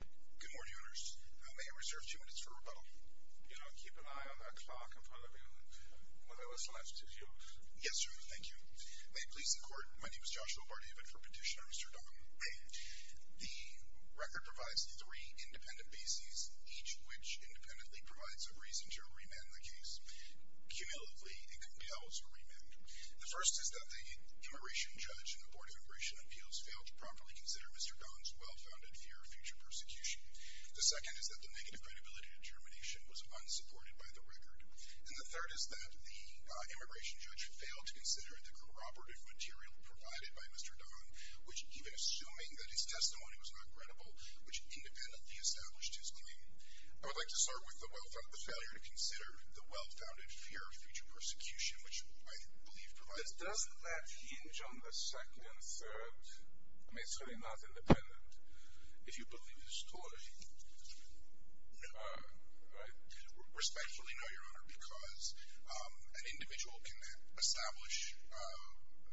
Good morning, Your Honors. May I reserve two minutes for rebuttal? You know, keep an eye on that clock in front of you. Whatever's left is yours. Yes, Your Honor. Thank you. May it please the Court, my name is Joshua Bardivet for Petitioner, Mr. Dong. May. The record provides three independent bases, each which independently provides a reason to remand the case. Cumulatively, it compels a remand. The first is that the immigration judge in the Board of Immigration Appeals failed to properly consider Mr. Dong's well-founded fear of future persecution. The second is that the negative credibility determination was unsupported by the record. And the third is that the immigration judge failed to consider the corroborative material provided by Mr. Dong, even assuming that his testimony was not credible, which independently established his claim. I would like to start with the failure to consider the well-founded fear of future persecution, which I believe provides... Does that hinge on the second and third? I mean, it's really not independent. If you believe the story, respectfully no, Your Honor, because an individual can establish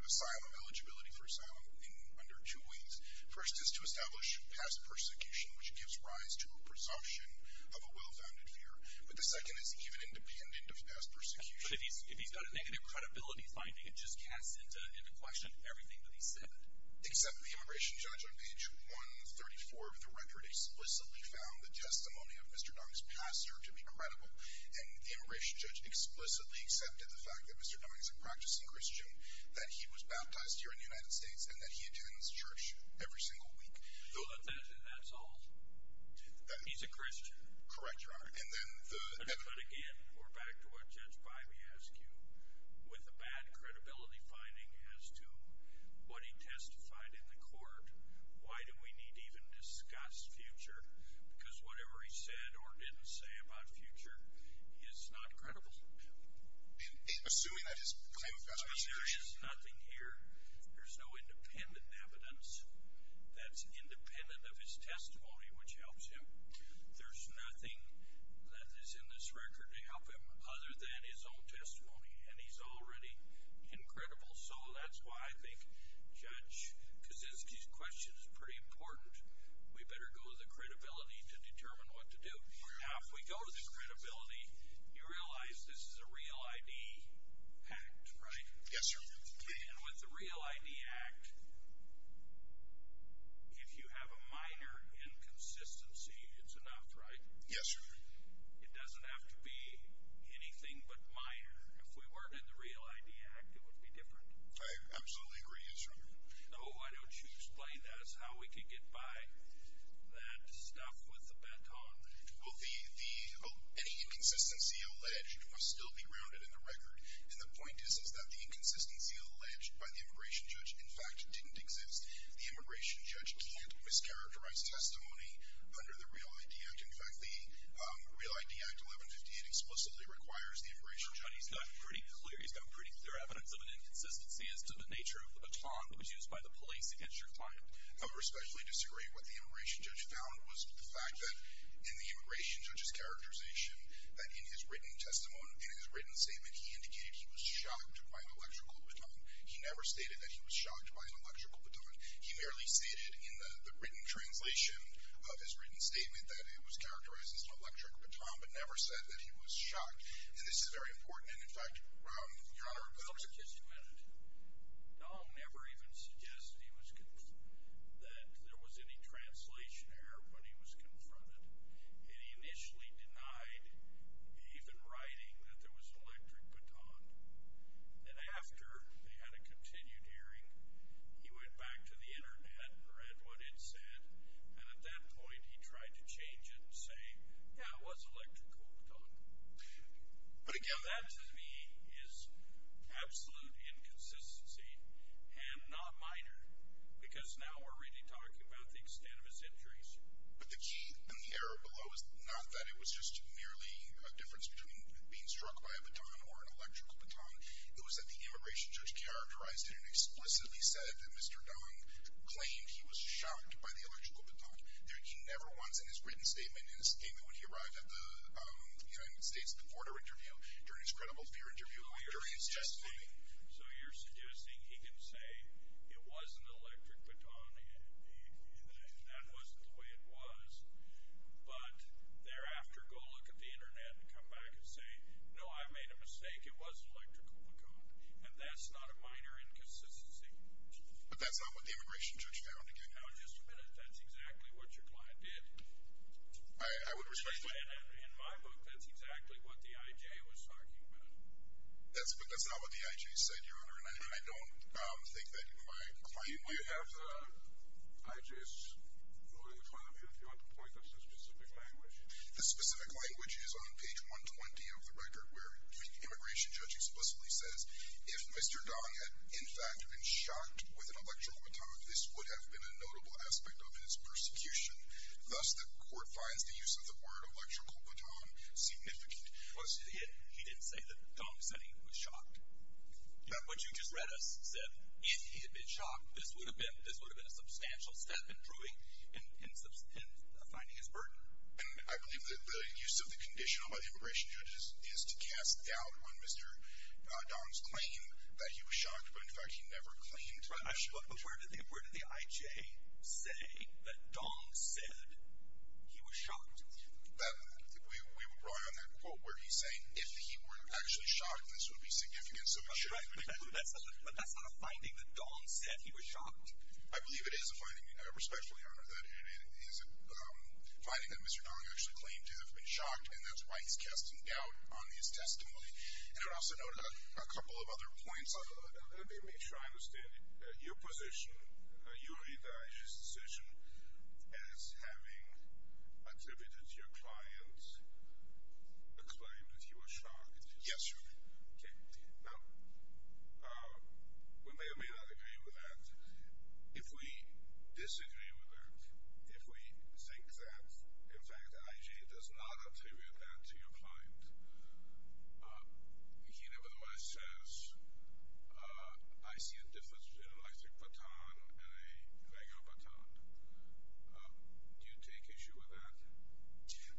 asylum, eligibility for asylum, in under two ways. First is to establish past persecution, which gives rise to a presumption of a well-founded fear. But the second is even independent of past persecution. But if he's got a negative credibility finding, it just casts into question everything that he said. Except the immigration judge on page 134 of the record explicitly found the testimony of Mr. Dong's pastor to be credible. And the immigration judge explicitly accepted the fact that Mr. Dong is a practicing Christian, that he was baptized here in the United States, and that he attends church every single week. So that's all? He's a Christian? Correct, Your Honor. But again, we're back to what Judge Bimey asked you, with a bad credibility finding as to what he testified in the court. Why do we need to even discuss future? Because whatever he said or didn't say about future is not credible. Assuming that his claim of past persecution... There is nothing here. There's no independent evidence that's independent of his testimony, which helps him. There's nothing that is in this record to help him other than his own testimony. And he's already incredible. So that's why I think Judge Kaczynski's question is pretty important. We better go to the credibility to determine what to do. Now, if we go to the credibility, you realize this is a Real ID Act, right? Yes, sir. And with the Real ID Act, if you have a minor inconsistency, it's enough, right? Yes, sir. It doesn't have to be anything but minor. If we weren't in the Real ID Act, it would be different. I absolutely agree, yes, Your Honor. So why don't you explain how we can get by that stuff with the baton? Well, any inconsistency alleged must still be grounded in the record. And the point is that the inconsistency alleged by the immigration judge, in fact, didn't exist. The immigration judge can't mischaracterize testimony under the Real ID Act. In fact, the Real ID Act 1158 explicitly requires the immigration judge... He's got pretty clear evidence of an inconsistency as to the nature of the baton that was used by the police against your client. I respectfully disagree. What the immigration judge found was the fact that in the immigration judge's characterization, that in his written testimony, in his written statement, he indicated he was shocked by an electrical baton. He never stated that he was shocked by an electrical baton. He merely stated in the written translation of his written statement that it was characterized as an electric baton, but never said that he was shocked. And this is very important, and in fact... Your Honor, I'll suggest you edit. Dahl never even suggested that there was any translation error when he was confronted. And he initially denied even writing that there was an electric baton. And after they had a continued hearing, he went back to the Internet and read what it said. And at that point, he tried to change it and say, yeah, it was an electrical baton. But again... That, to me, is absolute inconsistency and not minor, because now we're really talking about the extent of his injuries. But the key and the error below is not that it was just merely a difference between being struck by a baton or an electrical baton. It was that the immigration judge characterized it and explicitly said that Mr. Dong claimed he was shocked by the electrical baton. He never once, in his written statement, in his statement when he arrived at the United States, the border interview, during his credible fear interview, during his testimony... So you're suggesting he can say it was an electric baton and that wasn't the way it was, but thereafter go look at the Internet and come back and say, no, I made a mistake, it was an electrical baton. And that's not a minor inconsistency. But that's not what the immigration judge found, again. Now, just a minute. That's exactly what your client did. I would respectfully... In my book, that's exactly what the I.J. was talking about. But that's not what the I.J. said, Your Honor, and I don't think that my client knew... We have the I.J.'s note in the file here, if you want to point us to specific language. The specific language is on page 120 of the record, where the immigration judge explicitly says, if Mr. Dong had in fact been shocked with an electrical baton, this would have been a notable aspect of his persecution. Thus, the court finds the use of the word electrical baton significant. He didn't say that Dong said he was shocked. What you just read us said if he had been shocked, this would have been a substantial step in proving and finding his burden. And I believe that the use of the condition by the immigration judge is to cast doubt on Mr. Dong's claim that he was shocked, but in fact he never claimed that. But where did the I.J. say that Dong said he was shocked? We were brought on that quote where he's saying if he were actually shocked, this would be significant. But that's not a finding that Dong said he was shocked. I believe it is a finding, respectfully, Your Honor, that it is a finding that Mr. Dong actually claimed to have been shocked, and that's why he's casting doubt on his testimony. And I would also note a couple of other points. Let me make sure I understand it. Your position, you read the I.J.'s decision as having attributed to your client a claim that he was shocked. Yes, Your Honor. Okay. Now, we may or may not agree with that. If we disagree with that, if we think that, in fact, I.J. does not attribute that to your client, he nevertheless says, I see a difference between an electric baton and a regular baton. Do you take issue with that?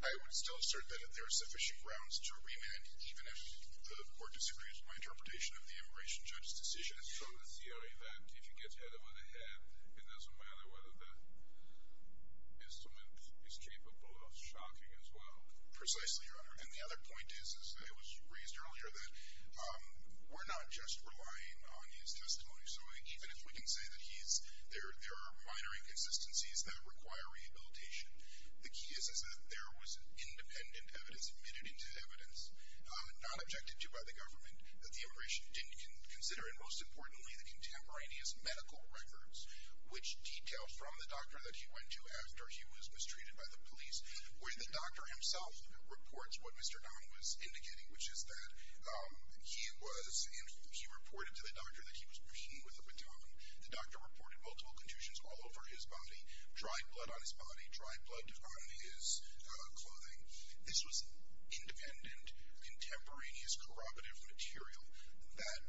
I would still assert that there are sufficient grounds to remand, even if the court disagrees with my interpretation of the immigration judge's decision. So the theory that if you get hit on the head, it doesn't matter whether the instrument is capable of shocking as well? Precisely, Your Honor. And the other point is, as was raised earlier, that we're not just relying on his testimony. So even if we can say that there are minor inconsistencies that require rehabilitation, the key is that there was independent evidence admitted into evidence, not objected to by the government, that the immigration didn't consider. And most importantly, the contemporaneous medical records, which detail from the doctor that he went to after he was mistreated by the police, where the doctor himself reports what Mr. Don was indicating, which is that he reported to the doctor that he was beaten with a baton. The doctor reported multiple contusions all over his body, dry blood on his body, dry blood on his clothing. This was independent, contemporaneous corroborative material that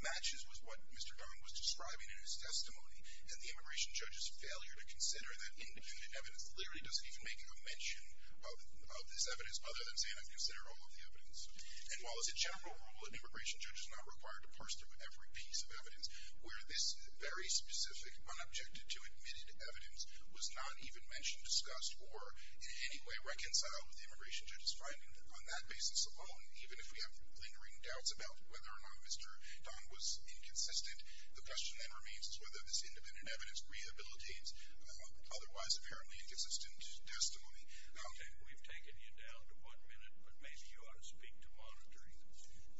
matches with what Mr. Don was describing in his testimony. And the immigration judge's failure to consider that independent evidence literally doesn't even make a mention of this evidence, other than saying, I've considered all of the evidence. And while as a general rule, an immigration judge is not required to parse through every piece of evidence, where this very specific, unobjected to, admitted evidence was not even mentioned, discussed, or in any way reconciled with the immigration judge's finding on that basis alone, even if we have lingering doubts about whether or not Mr. Don was inconsistent, the question then remains as to whether this independent evidence rehabilitates otherwise apparently inconsistent testimony. Okay, we've taken you down to one minute, but maybe you ought to speak to monitoring,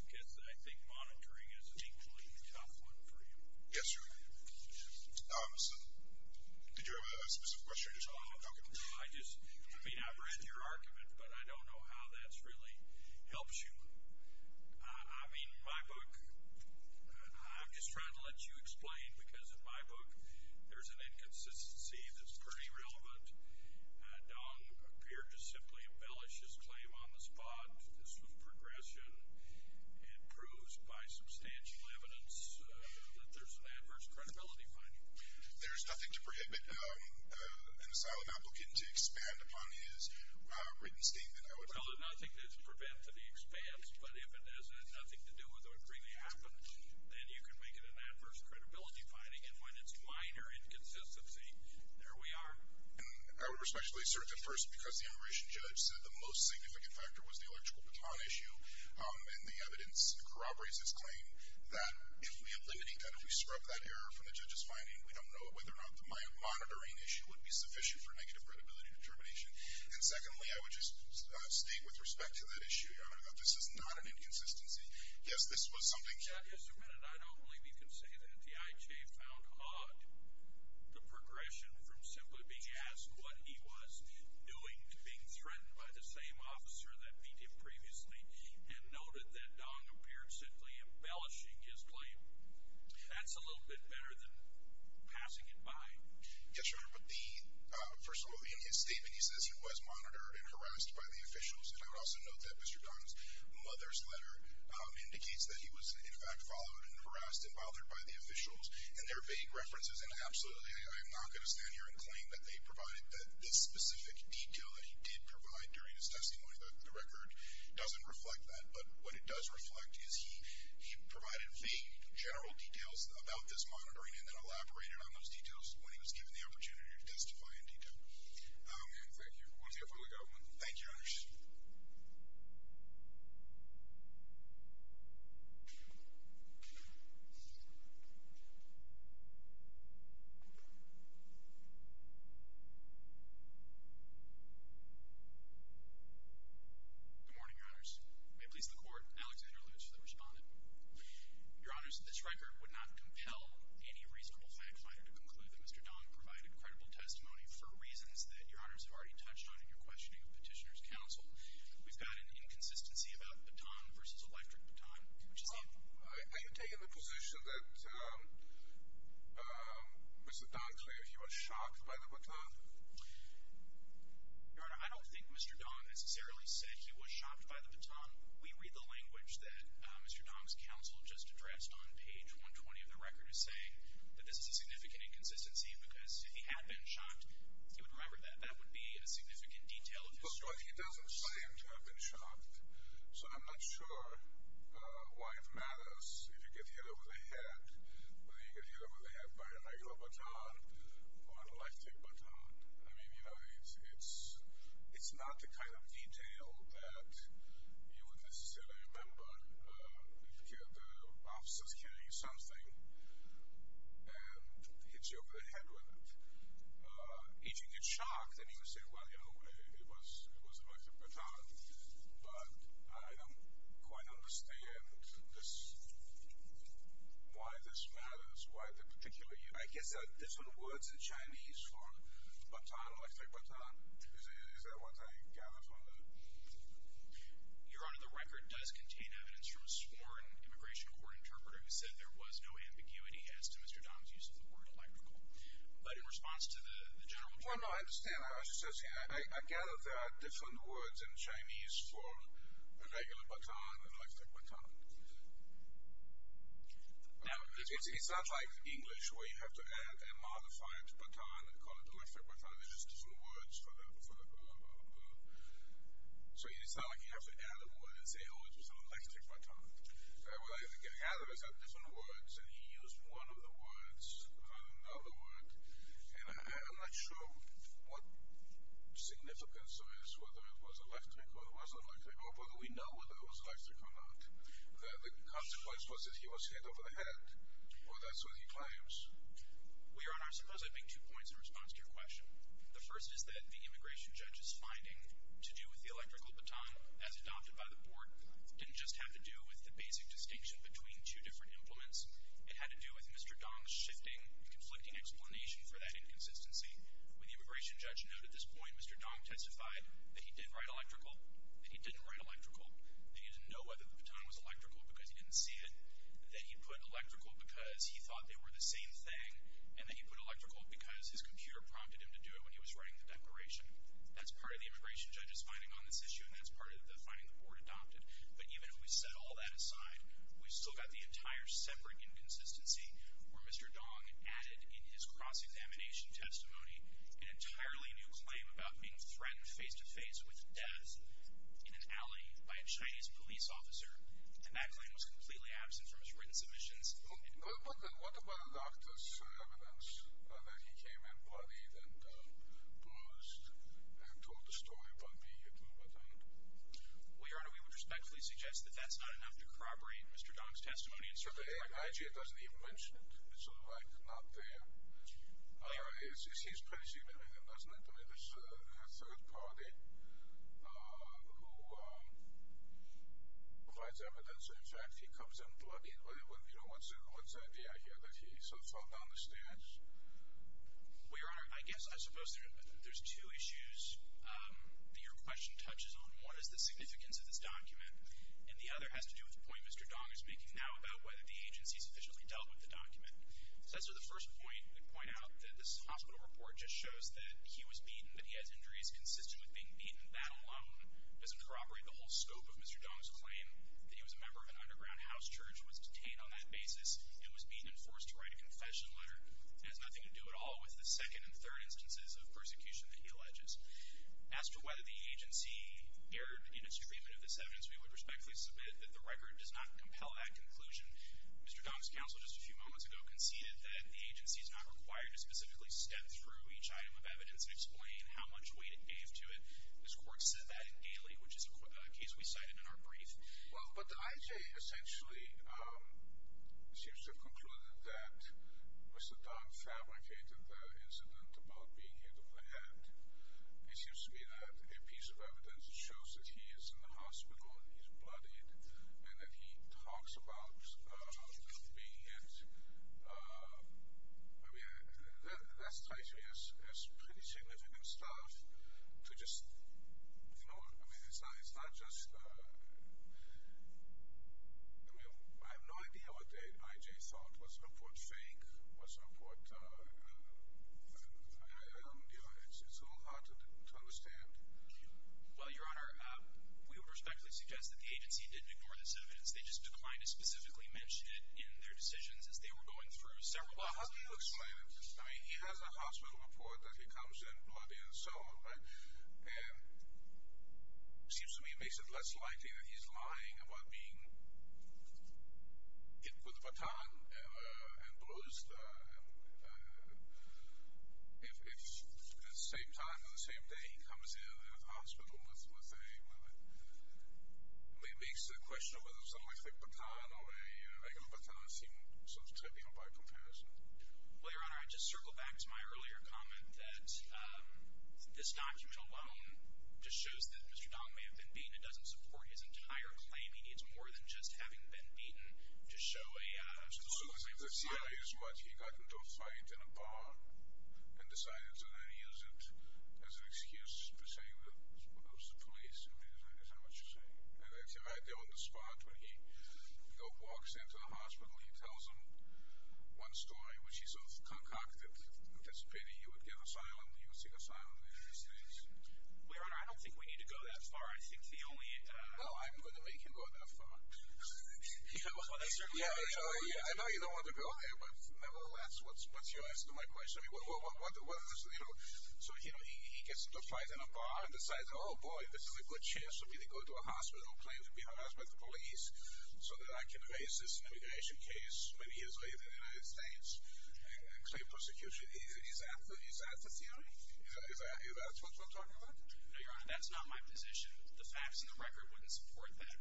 because I think monitoring is an equally tough one for you. Yes, sir. Did you have a specific question you just wanted to talk about? No, I just, I mean, I've read your argument, but I don't know how that really helps you. I mean, my book, I'm just trying to let you explain, because in my book, there's an inconsistency that's pretty relevant. Don appeared to simply embellish his claim on the spot. This was progression. It proves by substantial evidence that there's an adverse credibility finding. There's nothing to prohibit an asylum applicant to expand upon his written statement. Well, there's nothing to prevent that he expands, but if it has nothing to do with what really happened, then you can make it an adverse credibility finding, and when it's minor inconsistency, there we are. And I would respectfully assert that, first, because the immigration judge said the most significant factor was the electrical baton issue and the evidence corroborates his claim, that if we eliminate that, if we scrub that error from the judge's finding, we don't know whether or not the monitoring issue would be sufficient for negative credibility determination. And secondly, I would just state with respect to that issue, Your Honor, that this is not an inconsistency. Yes, this was something. Mr. Bennett, I don't believe you can say that the IJ found odd the progression from simply being asked what he was doing to being threatened by the same officer that beat him previously and noted that Don appeared simply embellishing his claim. That's a little bit better than passing it by. Yes, Your Honor, but the, first of all, in his statement he says he was monitored and harassed by the officials, and I would also note that Mr. Don's mother's letter indicates that he was, in fact, followed and harassed and bothered by the officials, and they're vague references, and absolutely I am not going to stand here and claim that they provided, that this specific detail that he did provide during his testimony, the record doesn't reflect that, but what it does reflect is he provided vague general details about this monitoring and then elaborated on those details when he was given the opportunity to testify in detail. Thank you. Thank you, Your Honors. Good morning, Your Honors. May it please the Court, Alexander Luce, the respondent. Your Honors, this record would not compel any reasonable fact finder to conclude that Mr. Don provided credible testimony for reasons that Your Honors have already touched on in your questioning of Petitioner's Counsel. We've got an inconsistency about the baton versus electric baton, which is the Well, are you taking the position that Mr. Don claimed he was shocked by the baton? Your Honor, I don't think Mr. Don necessarily said he was shocked by the baton. We read the language that Mr. Don's counsel just addressed on page 120 of the record as saying that this is a significant inconsistency because if he had been shocked, he would remember that that would be a significant detail of his story. But he doesn't seem to have been shocked, so I'm not sure why it matters if you get hit over the head, whether you get hit over the head by an ignorant baton or an electric baton. I mean, you know, it's not the kind of detail that you would necessarily remember. The officer's carrying something and hits you over the head with it. If you get shocked, then you would say, well, you know, it was an electric baton, but I don't quite understand why this matters, why the particular— I guess there's no words in Chinese for baton, electric baton. Is that what I gathered from the— Your Honor, the record does contain evidence from a sworn immigration court interpreter who said there was no ambiguity as to Mr. Don's use of the word electrical. But in response to the general— Well, no, I understand. I was just asking. I gather there are different words in Chinese for a regular baton, electric baton. It's not like English where you have to add a modified baton and call it electric baton. It's just different words for the— So it's not like you have to add a word and say, oh, it was an electric baton. What I gather is that different words, and he used one of the words, another word, and I'm not sure what significance there is, whether it was electric or it wasn't electric, or whether we know whether it was electric or not. The consequence was that he was hit over the head, or that's what he claims. Well, Your Honor, I suppose I'd make two points in response to your question. The first is that the immigration judge's finding to do with the electrical baton as adopted by the court didn't just have to do with the basic distinction between two different implements. It had to do with Mr. Dong's shifting, conflicting explanation for that inconsistency. When the immigration judge noted this point, Mr. Dong testified that he did write electrical, that he didn't write electrical, that he didn't know whether the baton was electrical because he didn't see it, that he put electrical because he thought they were the same thing, and that he put electrical because his computer prompted him to do it when he was writing the declaration. That's part of the immigration judge's finding on this issue, and that's part of the finding the court adopted. But even if we set all that aside, we've still got the entire separate inconsistency where Mr. Dong added in his cross-examination testimony an entirely new claim about being threatened face-to-face with death in an alley by a Chinese police officer, and that claim was completely absent from his written submissions. Well, but then what about a doctor's evidence that he came in bloodied and bruised and told the story about being hit with a baton? Well, Your Honor, we would respectfully suggest that that's not enough to corroborate Mr. Dong's testimony. Actually, it doesn't even mention it. It's sort of like not there. It seems pretty significant, doesn't it? I mean, there's a third party who provides evidence. In fact, he comes in bloodied. You know, what's the idea here, that he sort of fell down the stairs? Well, Your Honor, I guess I suppose there's two issues that your question touches on. One is the significance of this document, and the other has to do with the point Mr. Dong is making now about whether the agency sufficiently dealt with the document. So as to the first point, I'd point out that this hospital report just shows that he was beaten, that he has injuries consistent with being beaten, that alone doesn't corroborate the whole scope of Mr. Dong's claim that he was a member of an underground house church, was detained on that basis, and was beaten and forced to write a confession letter. It has nothing to do at all with the second and third instances of persecution that he alleges. As to whether the agency erred in its treatment of this evidence, we would respectfully submit that the record does not compel that conclusion. Mr. Dong's counsel just a few moments ago conceded that the agency is not required to specifically step through each item of evidence and explain how much weight it gave to it. This court said that in Daly, which is a case we cited in our brief. Well, but the IJ essentially seems to have concluded that Mr. Dong fabricated the incident about being hit on the head. It seems to me that a piece of evidence shows that he is in the hospital, and he's bloodied, and that he talks about being hit. I mean, that strikes me as pretty significant stuff. To just, you know, I mean, it's not just, I mean, I have no idea what the IJ thought. Was her report fake? Was her report, I don't know, it's a little hard to understand. Well, Your Honor, we would respectfully suggest that the agency didn't ignore this evidence. They just declined to specifically mention it in their decisions as they were going through several items of evidence. Well, how do you explain it? I mean, he has a hospital report that he comes in bloody and so on, right? And it seems to me it makes it less likely that he's lying about being hit with a baton and blues. If at the same time, on the same day, he comes in the hospital with a, well, it makes the question of whether it's an electric baton or a regular baton seem sort of trivial by comparison. Well, Your Honor, I'd just circle back to my earlier comment that this document alone just shows that Mr. Dong may have been beaten. It doesn't support his entire claim. I mean, it's more than just having been beaten to show a, uh... As soon as the CIA squad, he got into a fight in a bar and decided to then use it as an excuse to say that it was the police. I mean, I don't understand what you're saying. And as you're right there on the spot, when he walks into the hospital, he tells them one story, which he sort of concocted, anticipating he would get asylum, he would seek asylum in the United States. Well, Your Honor, I don't think we need to go that far. I think the only... No, I'm going to make him go that far. Yeah, well, that's certainly... Yeah, I know you don't want to go there, but nevertheless, what's your answer to my question? I mean, what are the, you know... So, you know, he gets into a fight in a bar and decides, oh, boy, this is a good chance for me to go to a hospital, claim to be harassed by the police, so that I can raise this immigration case, many years later, in the United States, and claim persecution. Is that the theory? Is that what you're talking about? No, Your Honor, that's not my position. The facts and the record wouldn't support that.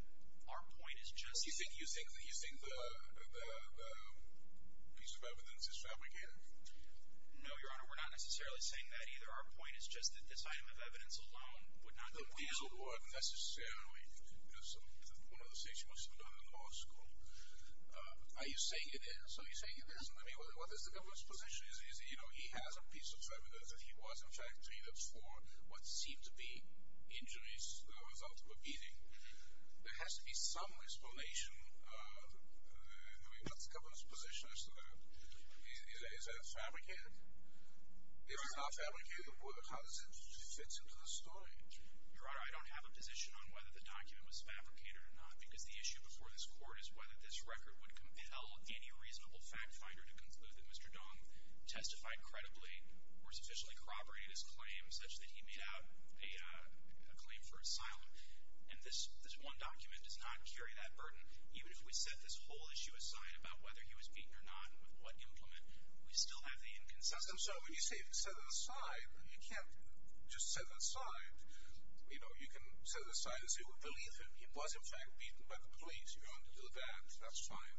Our point is just... You think the piece of evidence is fabricated? No, Your Honor, we're not necessarily saying that either. Our point is just that this item of evidence alone would not... It's not a diesel board, necessarily. It's one of the things you must have done in law school. Are you saying it is? Are you saying it isn't? I mean, what is the government's position? You know, he has a piece of evidence that he was, in fact, treated for what seemed to be injuries as a result of a beating. There has to be some explanation. I mean, what's the government's position as to that? Is that fabricated? If it's not fabricated, how does it fit into the story? Your Honor, I don't have a position on whether the document was fabricated or not, because the issue before this court is whether this record would compel any reasonable fact finder to conclude that Mr. Dong testified credibly or sufficiently corroborated his claim, such that he made out a claim for asylum. And this one document does not carry that burden, even if we set this whole issue aside about whether he was beaten or not and with what implement, we still have the inconsistency. I'm sorry, when you say set it aside, you can't just set it aside. You know, you can set it aside and say, well, believe him. He was, in fact, beaten by the police. You don't have to do that. That's fine.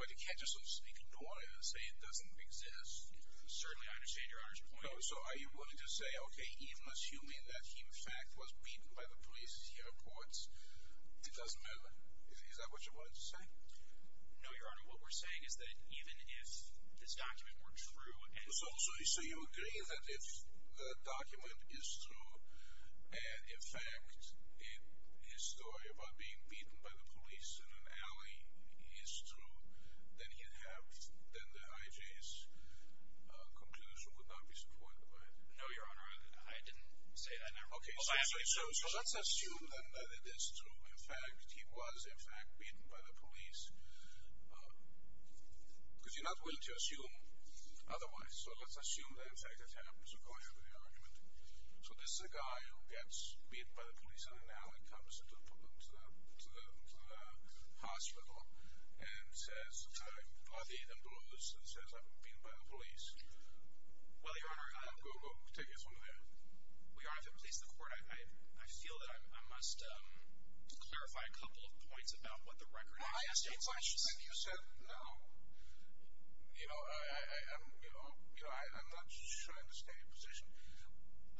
But you can't just, so to speak, ignore it and say it doesn't exist. Certainly, I understand Your Honor's point. No, so are you willing to say, okay, even assuming that he, in fact, was beaten by the police, he reports, it doesn't matter? Is that what you're willing to say? No, Your Honor, what we're saying is that even if this document were true... then the IJ's conclusion would not be supported by it. No, Your Honor, I didn't say that. Okay, so let's assume then that it is true. In fact, he was, in fact, beaten by the police, because you're not willing to assume otherwise. So let's assume that, in fact, it happens according to the argument. So this is a guy who gets beaten by the police on an alley, comes to the hospital, and says, I'm glad he didn't lose, and says, I've been beaten by the police. Well, Your Honor, I... Go, go, take it from there. Well, Your Honor, if it pleases the Court, I feel that I must clarify a couple of points about what the record actually states. Like you said, now, you know, I'm not trying to stay in position.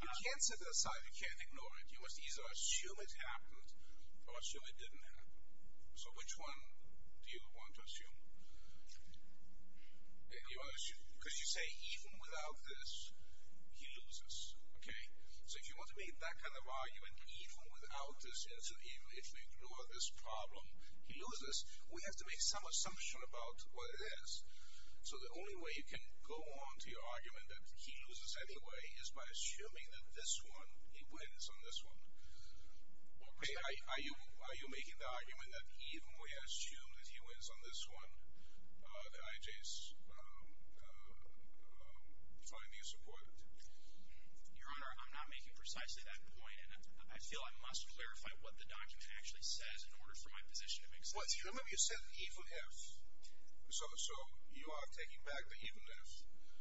You can't set it aside, you can't ignore it. You must either assume it happened, or assume it didn't happen. So which one do you want to assume? Because you say, even without this, he loses. Okay? So if you want to make that kind of argument, even without this answer, even if we ignore this problem, he loses, we have to make some assumption about what it is. So the only way you can go on to your argument that he loses anyway is by assuming that this one, he wins on this one. Okay, are you making the argument that even when you assume that he wins on this one, the IJs find the support? Your Honor, I'm not making precisely that point, and I feel I must clarify what the document actually says in order for my position to make sense. What, do you remember you said even if? So you are taking back the even if?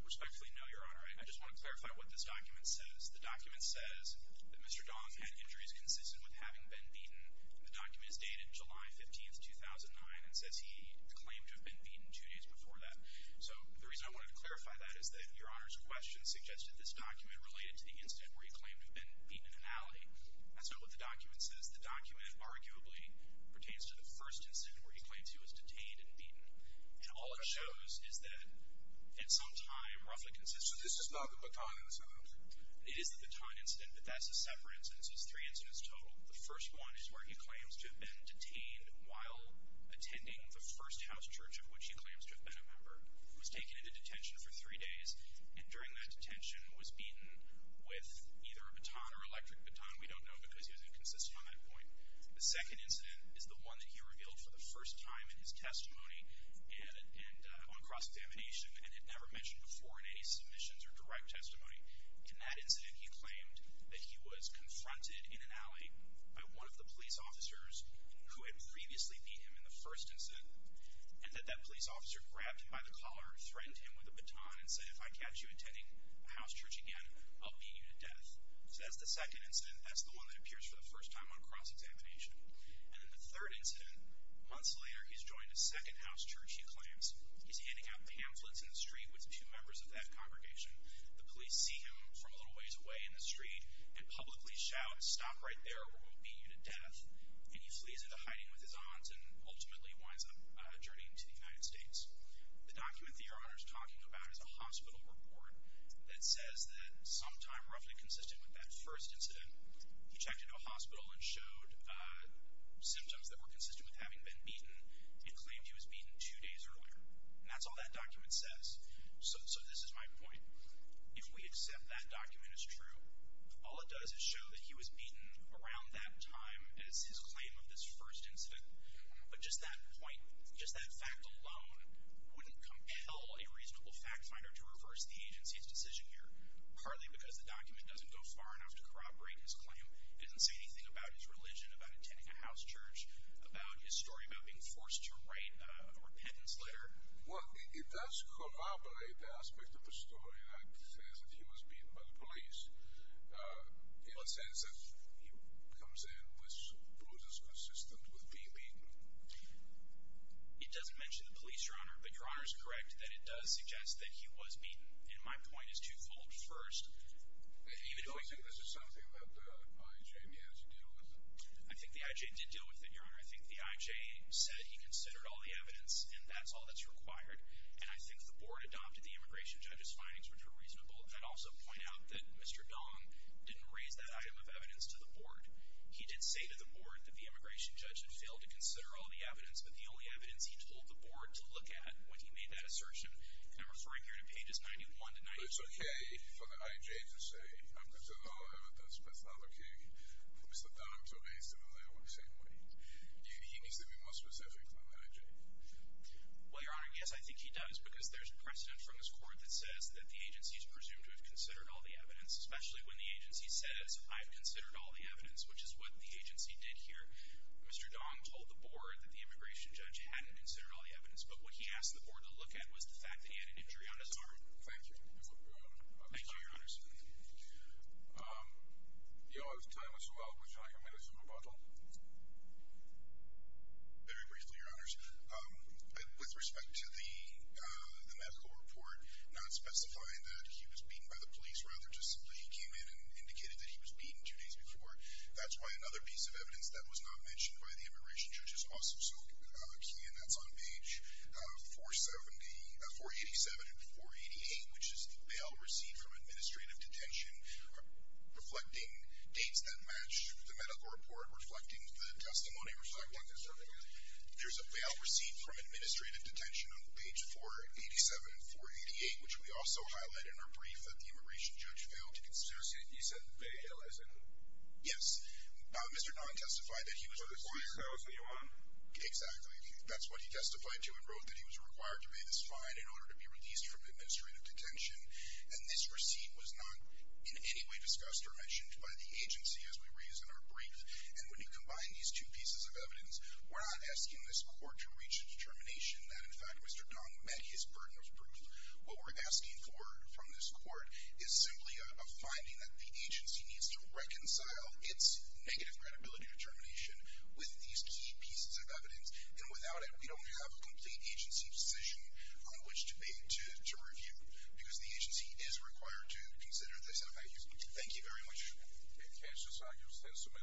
Respectfully, no, Your Honor. I just want to clarify what this document says. The document says that Mr. Dong had injuries consistent with having been beaten. The document is dated July 15, 2009, and says he claimed to have been beaten two days before that. So the reason I wanted to clarify that is that Your Honor's question suggested this document related to the incident where he claimed to have been beaten in an alley. That's not what the document says. The document arguably pertains to the first incident where he claims he was detained and beaten. And all it shows is that at some time, roughly consistent. So this is not the Bataan incident? It is the Bataan incident, but that's a separate incident, so it's three incidents total. The first one is where he claims to have been detained while attending the first house church of which he claims to have been a member. He was taken into detention for three days, and during that detention was beaten with either a baton or electric baton. We don't know because he was inconsistent on that point. The second incident is the one that he revealed for the first time in his testimony and on cross-examination, and had never mentioned before in any submissions or direct testimony. In that incident, he claimed that he was confronted in an alley by one of the police officers who had previously beat him in the first incident, and that that police officer grabbed him by the collar, threatened him with a baton, and said, if I catch you attending house church again, I'll beat you to death. So that's the second incident. That's the one that appears for the first time on cross-examination. And in the third incident, months later, he's joined a second house church, he claims. He's handing out pamphlets in the street with two members of that congregation. The police see him from a little ways away in the street and publicly shout, stop right there or we'll beat you to death. And he flees into hiding with his aunts and ultimately winds up journeying to the United States. The document that Your Honor is talking about is a hospital report that says that sometime roughly consistent with that first incident, he checked into a hospital and showed symptoms that were consistent with having been beaten and claimed he was beaten two days earlier. And that's all that document says. So this is my point. If we accept that document is true, all it does is show that he was beaten around that time as his claim of this first incident. But just that point, just that fact alone wouldn't compel a reasonable fact finder to reverse the agency's decision here. Partly because the document doesn't go far enough to corroborate his claim. It doesn't say anything about his religion, about attending a house church, about his story about being forced to write a repentance letter. Well, it does corroborate the aspect of the story that says that he was beaten by the police. In the sense that he comes in with bruises consistent with being beaten. It doesn't mention the police, Your Honor, but Your Honor is correct that it does suggest that he was beaten. And my point is twofold. First, You don't think this is something that the IJ may have to deal with? I think the IJ did deal with it, Your Honor. I think the IJ said he considered all the evidence and that's all that's required. And I think the board adopted the immigration judge's findings, which were reasonable. I'd also point out that Mr. Dong didn't raise that item of evidence to the board. He did say to the board that the immigration judge had failed to consider all the evidence, but the only evidence he told the board to look at when he made that assertion, and I'm referring here to pages 91 to 92. It's okay for the IJ to say, I considered all the evidence, but it's not okay for Mr. Dong to raise it in the same way. He needs to be more specific than the IJ. Well, Your Honor, yes, I think he does. Because there's precedent from this court that says that the agency is presumed to have considered all the evidence, especially when the agency says, I've considered all the evidence, which is what the agency did here. Mr. Dong told the board that the immigration judge hadn't considered all the evidence, but what he asked the board to look at was the fact that he had an injury on his arm. Thank you. You're welcome, Your Honor. Thank you, Your Honors. You know, I was telling Mr. Weld, would you like a minute to move on? Very briefly, Your Honors. With respect to the medical report not specifying that he was beaten by the police, rather just simply he came in and indicated that he was beaten two days before, that's why another piece of evidence that was not mentioned by the immigration judge is also so key, and that's on page 487 and 488, which is the bail receipt from administrative detention, reflecting dates that match the medical report, reflecting the testimony, reflecting the testimony. There's a bail receipt from administrative detention on page 487 and 488, which we also highlight in our brief that the immigration judge failed to consider. You said bail, is it? Yes. Mr. Dong testified that he was arrested. Exactly. That's what he testified to and wrote that he was required to pay this fine in order to be released from administrative detention, and this receipt was not in any way discussed or mentioned by the agency as we raised in our brief, and when you combine these two pieces of evidence, we're not asking this court to reach a determination that, in fact, Mr. Dong met his burden of proof. What we're asking for from this court is simply a finding that the agency needs to reconcile its negative credibility determination with these key pieces of evidence, and without it, we don't have a complete agency decision on which debate to review because the agency is required to consider the set of values. Thank you very much.